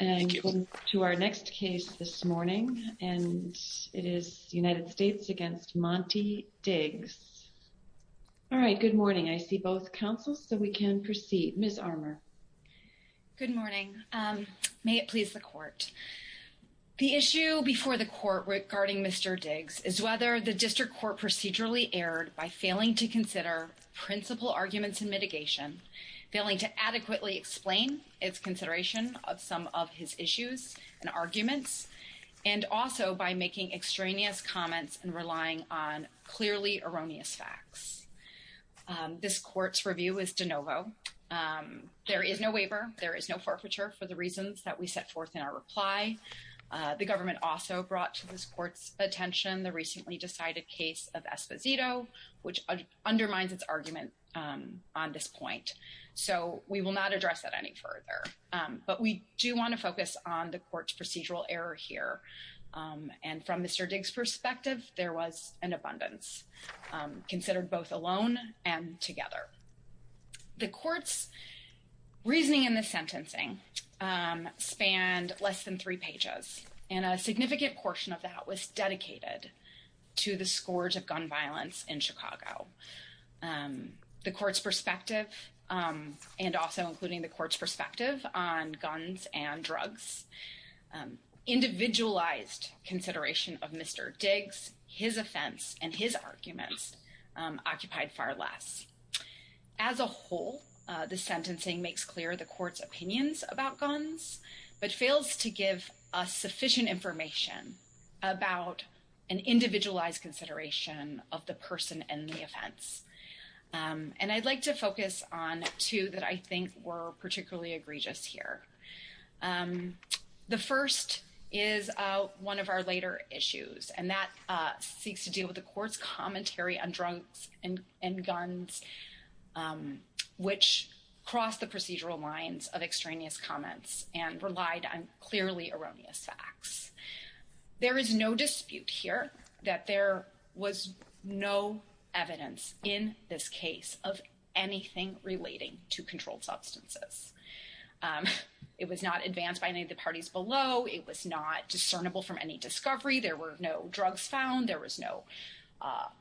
and to our next case this morning and it is United States against Monte Diggs. All right, good morning. I see both counsels so we can proceed. Ms. Armour. Good morning. May it please the court. The issue before the court regarding Mr. Diggs is whether the district court procedurally erred by failing to consider principal arguments in mitigation, failing to adequately explain its consideration of some of his issues and arguments, and also by making extraneous comments and relying on clearly erroneous facts. This court's review is de novo. There is no waiver. There is no forfeiture for the reasons that we set forth in our reply. The government also brought to this court's attention the case of Esposito, which undermines its argument on this point. So we will not address that any further. But we do want to focus on the court's procedural error here. And from Mr. Diggs' perspective, there was an abundance considered both alone and together. The court's reasoning in the sentencing spanned less than three pages and a significant portion of that was dedicated to the scourge of gun violence in Chicago. The court's perspective, and also including the court's perspective on guns and drugs, individualized consideration of Mr. Diggs, his offense, and his arguments occupied far less. As a whole, the sentencing makes clear the court's consideration of the person and the offense. And I'd like to focus on two that I think were particularly egregious here. The first is one of our later issues, and that seeks to deal with the court's commentary on drugs and guns, which crossed the procedural lines of extraneous comments and relied on clearly erroneous facts. There is no dispute here that there was no evidence in this case of anything relating to controlled substances. It was not advanced by any of the parties below. It was not discernible from any discovery. There were no drugs found. There was no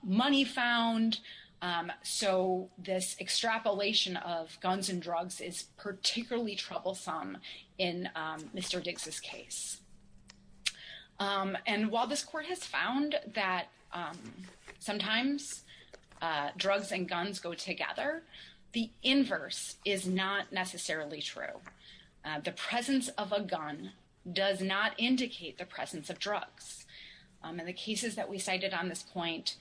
money found. So this extrapolation of guns and drugs is particularly troublesome in Mr. Diggs's case. And while this court has found that sometimes drugs and guns go together, the inverse is not necessarily true. The presence of a gun does not indicate the presence of drugs. In the cases that we cited on this point,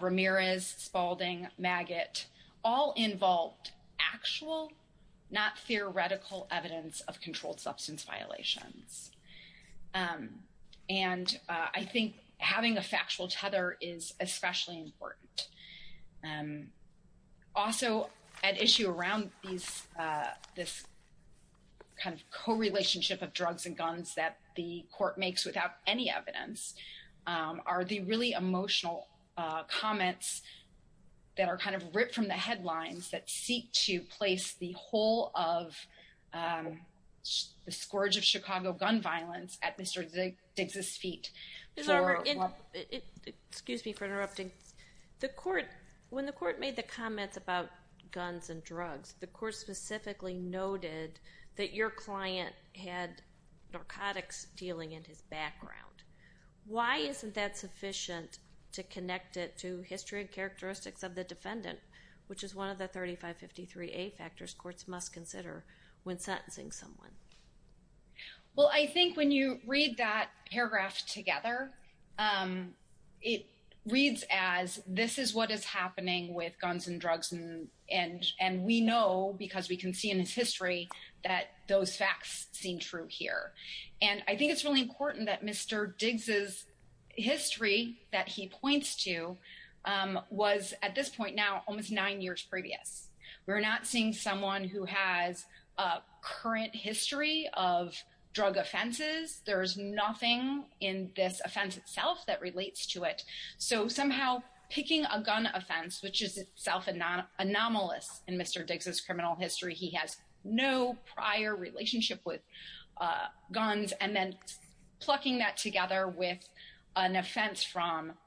Ramirez, Spaulding, Maggott, all involved actual, not theoretical evidence of controlled substance violations. And I think having a factual tether is especially important. Also at issue around this kind of co-relationship of drugs and guns that the emotional comments that are kind of ripped from the headlines that seek to place the whole of the scourge of Chicago gun violence at Mr. Diggs's feet. Excuse me for interrupting. When the court made the comments about guns and drugs, the court specifically noted that your client had narcotics dealing in his background. Why isn't that sufficient to connect it to history and characteristics of the defendant, which is one of the 3553A factors courts must consider when sentencing someone? Well, I think when you read that paragraph together, it reads as this is what is happening with guns and drugs. And we know because we can see in his history that those facts seem true here. And I think it's really important that Mr. Diggs's history that he points to was at this point now almost nine years previous. We're not seeing someone who has a current history of drug offenses. There's nothing in this offense itself that relates to it. So somehow picking a gun offense, which is itself anomalous in Mr. Diggs's criminal from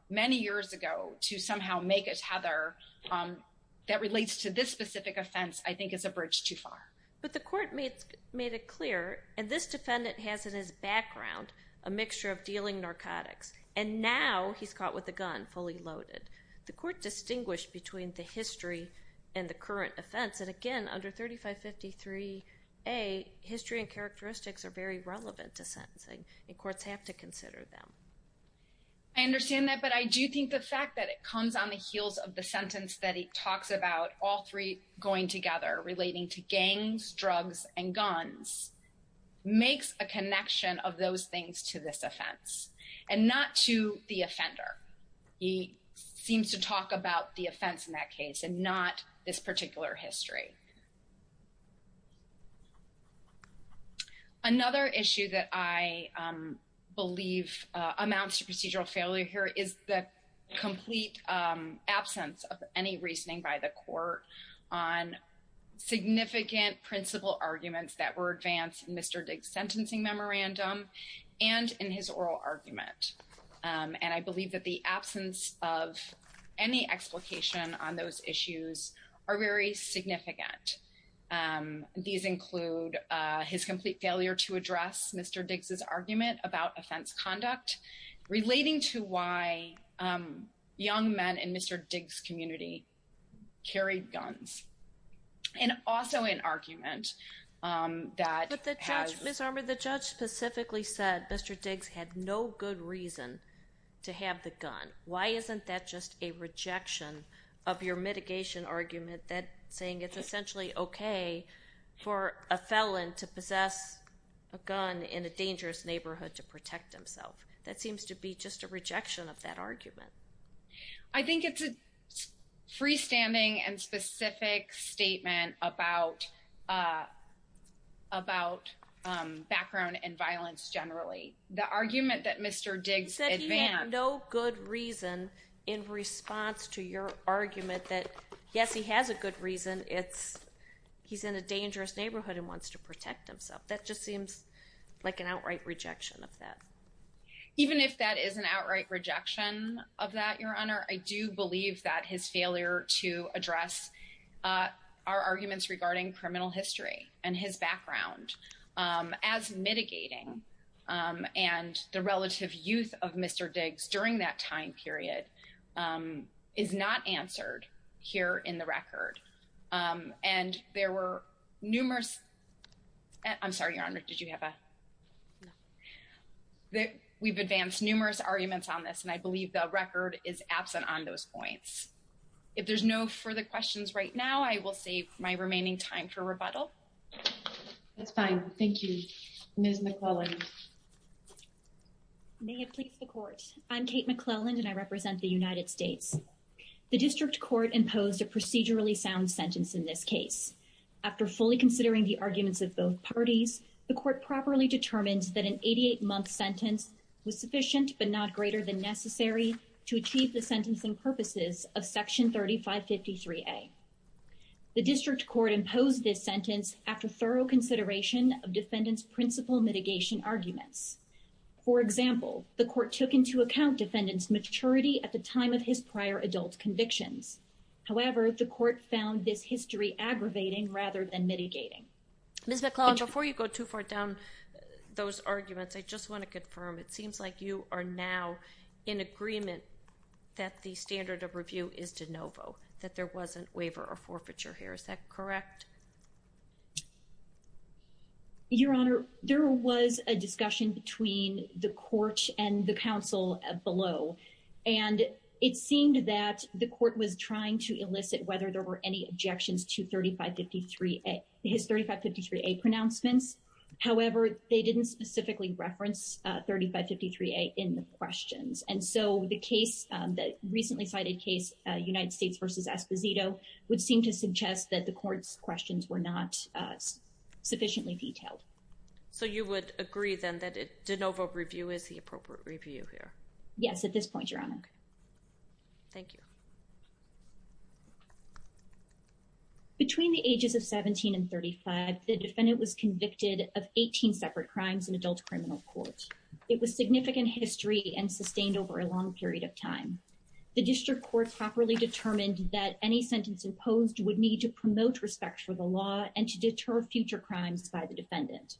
many years ago to somehow make a tether that relates to this specific offense, I think is a bridge too far. But the court made it clear, and this defendant has in his background a mixture of dealing narcotics, and now he's caught with a gun fully loaded. The court distinguished between the history and the current offense. And again, under 3553A, history and characteristics are very similar. I understand that, but I do think the fact that it comes on the heels of the sentence that he talks about all three going together relating to gangs, drugs, and guns makes a connection of those things to this offense and not to the offender. He seems to talk about the procedural failure here is the complete absence of any reasoning by the court on significant principal arguments that were advanced in Mr. Diggs's sentencing memorandum and in his oral argument. And I believe that the absence of any explication on those issues are very significant. These include his complete failure to address Mr. Diggs's argument about offense conduct, relating to why young men in Mr. Diggs's community carried guns, and also an argument that has... But the judge, Ms. Armour, the judge specifically said Mr. Diggs had no good reason to have the gun. Why isn't that just a rejection of your mitigation argument that saying it's essentially okay for a felon to possess a gun in a dangerous neighborhood to protect himself? That seems to be just a rejection of that argument. I think it's a freestanding and specific statement about background and violence, generally. The argument that Mr. Diggs advanced... You said he had no good reason in response to your argument that, yes, he has a good reason. He's in a dangerous neighborhood and wants to protect himself. That just seems like an outright rejection of that. Even if that is an outright rejection of that, Your Honor, I do believe that his failure to address our arguments regarding criminal history and his background as mitigating and the relative youth of Mr. Diggs during that time period is not answered here in the record. And there were numerous... I'm sorry, Your Honor, did you have a... We've advanced numerous arguments on this, and I believe the record is absent on those points. If there's no further questions right now, I will save my remaining time for rebuttal. That's fine. Thank you. Ms. McClellan. May it please the Court. I'm Kate McClellan, and I represent the United States. The District Court imposed a procedurally sound sentence in this case. After fully considering the arguments of both parties, the Court properly determined that an 88-month sentence was sufficient but not greater than necessary to achieve the sentencing purposes of Section 3553A. The District Court imposed this sentence after thorough consideration of defendants' principal mitigation arguments. For example, the Court took into account defendants' maturity at the time of his prior adult convictions. However, the Court found this history aggravating rather than mitigating. Ms. McClellan, before you go too far down those arguments, I just want to confirm. It seems like you are now in agreement that the standard of review is de novo, that there was a waiver or forfeiture here. Is that correct? Your Honor, there was a discussion between the Court and the counsel below, and it seemed that the Court was trying to elicit whether there were any pronouncements. However, they didn't specifically reference 3553A in the questions. And so the case, the recently cited case, United States v. Esposito, would seem to suggest that the Court's questions were not sufficiently detailed. So you would agree then that a de novo review is the appropriate review here? Yes, at this point, Your Honor. Thank you. Between the ages of 17 and 35, the defendant was convicted of 18 separate crimes in adult criminal court. It was significant history and sustained over a long period of time. The District Court properly determined that any sentence imposed would need to promote respect for the law and to deter future crimes by the defendant.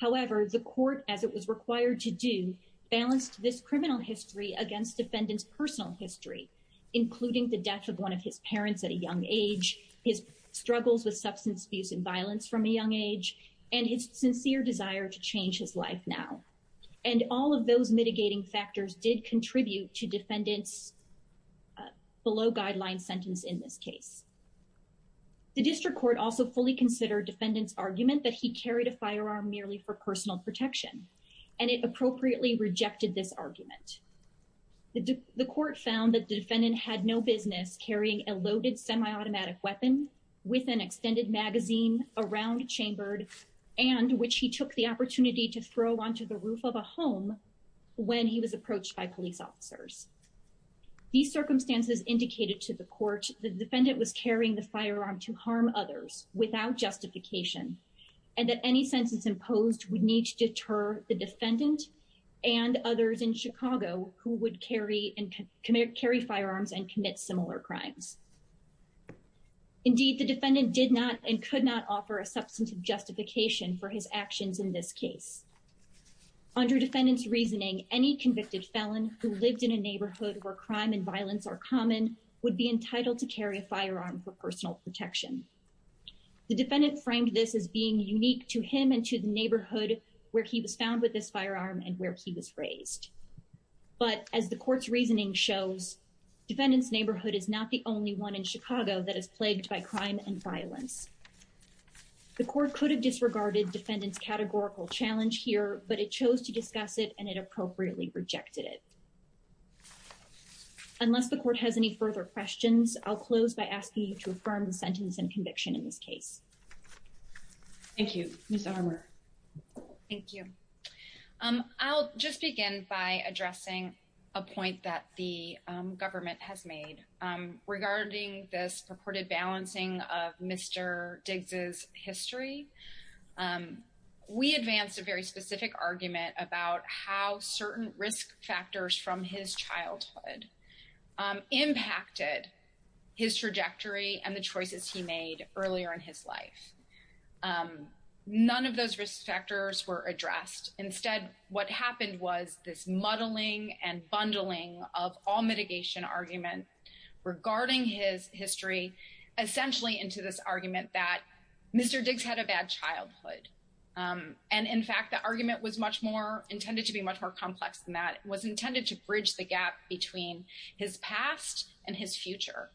However, the Court, as it was required to do, balanced this criminal history against defendants' personal history, including the death of one of his parents at a young age, his struggles with substance abuse and violence from a young age, and his sincere desire to change his life now. And all of those mitigating factors did contribute to defendants' below-guideline sentence in this case. The District Court also fully considered defendant's argument that he carried a firearm merely for personal protection, and it appropriately rejected this argument. The Court found that the defendant had no business carrying a loaded semi-automatic weapon with an extended magazine around chambered and which he took the opportunity to throw onto the roof of a home when he was approached by police officers. These circumstances indicated to the Court that the defendant was carrying the firearm to harm others without justification, and that any sentence imposed would need to deter the defendant and others in Chicago who would carry firearms and commit similar crimes. Indeed, the defendant did not and could not offer a substantive justification for his actions in this case. Under defendant's reasoning, any convicted felon who lived in a neighborhood where crime and violence are common would be entitled to carry a firearm for personal protection. The defendant framed this as being unique to him and to the neighborhood where he was found with this firearm and where he was raised. But as the Court's reasoning shows, defendant's neighborhood is not the only one in Chicago that is plagued by crime and violence. The Court could have disregarded defendant's categorical challenge here, but it chose to discuss it and it appropriately rejected it. Unless the Court has any further questions, I'll close by asking you to affirm the sentence and conviction in this case. Thank you. Ms. Armour. Thank you. I'll just begin by addressing a point that the government has made regarding this purported balancing of Mr. Diggs' history. We advanced a very specific argument about how certain risk factors from his childhood impacted his trajectory and the choices he made earlier in his life. None of those risk factors were addressed. Instead, what happened was this muddling and bundling of all mitigation argument regarding his history, essentially into this argument that Mr. Diggs had a bad childhood. In fact, the argument was much more intended to be much more complex than that. It was intended to bridge the gap between his past and his future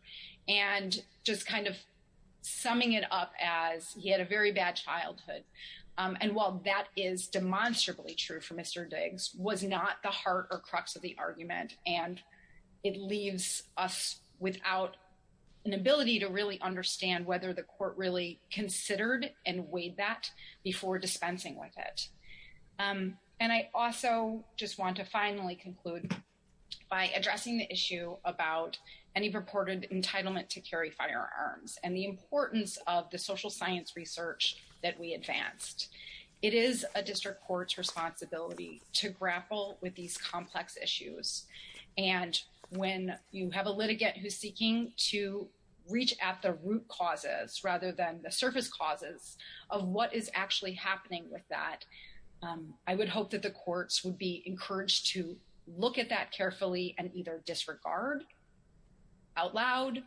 and just kind of summing it up as he had a very bad childhood. While that is demonstrably true for Mr. Diggs, it was not the heart or crux of the argument. It leaves us without an ability to really understand whether the Court really considered and weighed that before dispensing with it. I also just want to finally conclude by addressing the issue about any purported entitlement to carry firearms and the importance of the social science research that we advanced. It is a district court's responsibility to grapple with these complex issues. When you have a litigant who's seeking to reach at the root causes rather than the surface causes of what is actually happening with that, I would hope that the courts would be encouraged to look at that carefully and either disregard out loud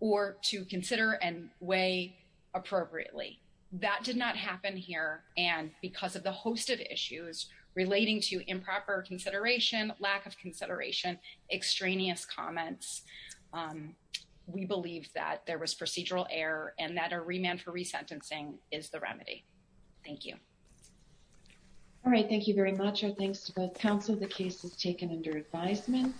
or to consider and weigh appropriately. That did not happen here. Because of the host of issues relating to improper consideration, lack of consideration, extraneous comments, we believe that there was procedural error and that a remand for resentencing is the remedy. Thank you. All right. Thank you very much. Our thanks to both counsel. The case is taken under advisement.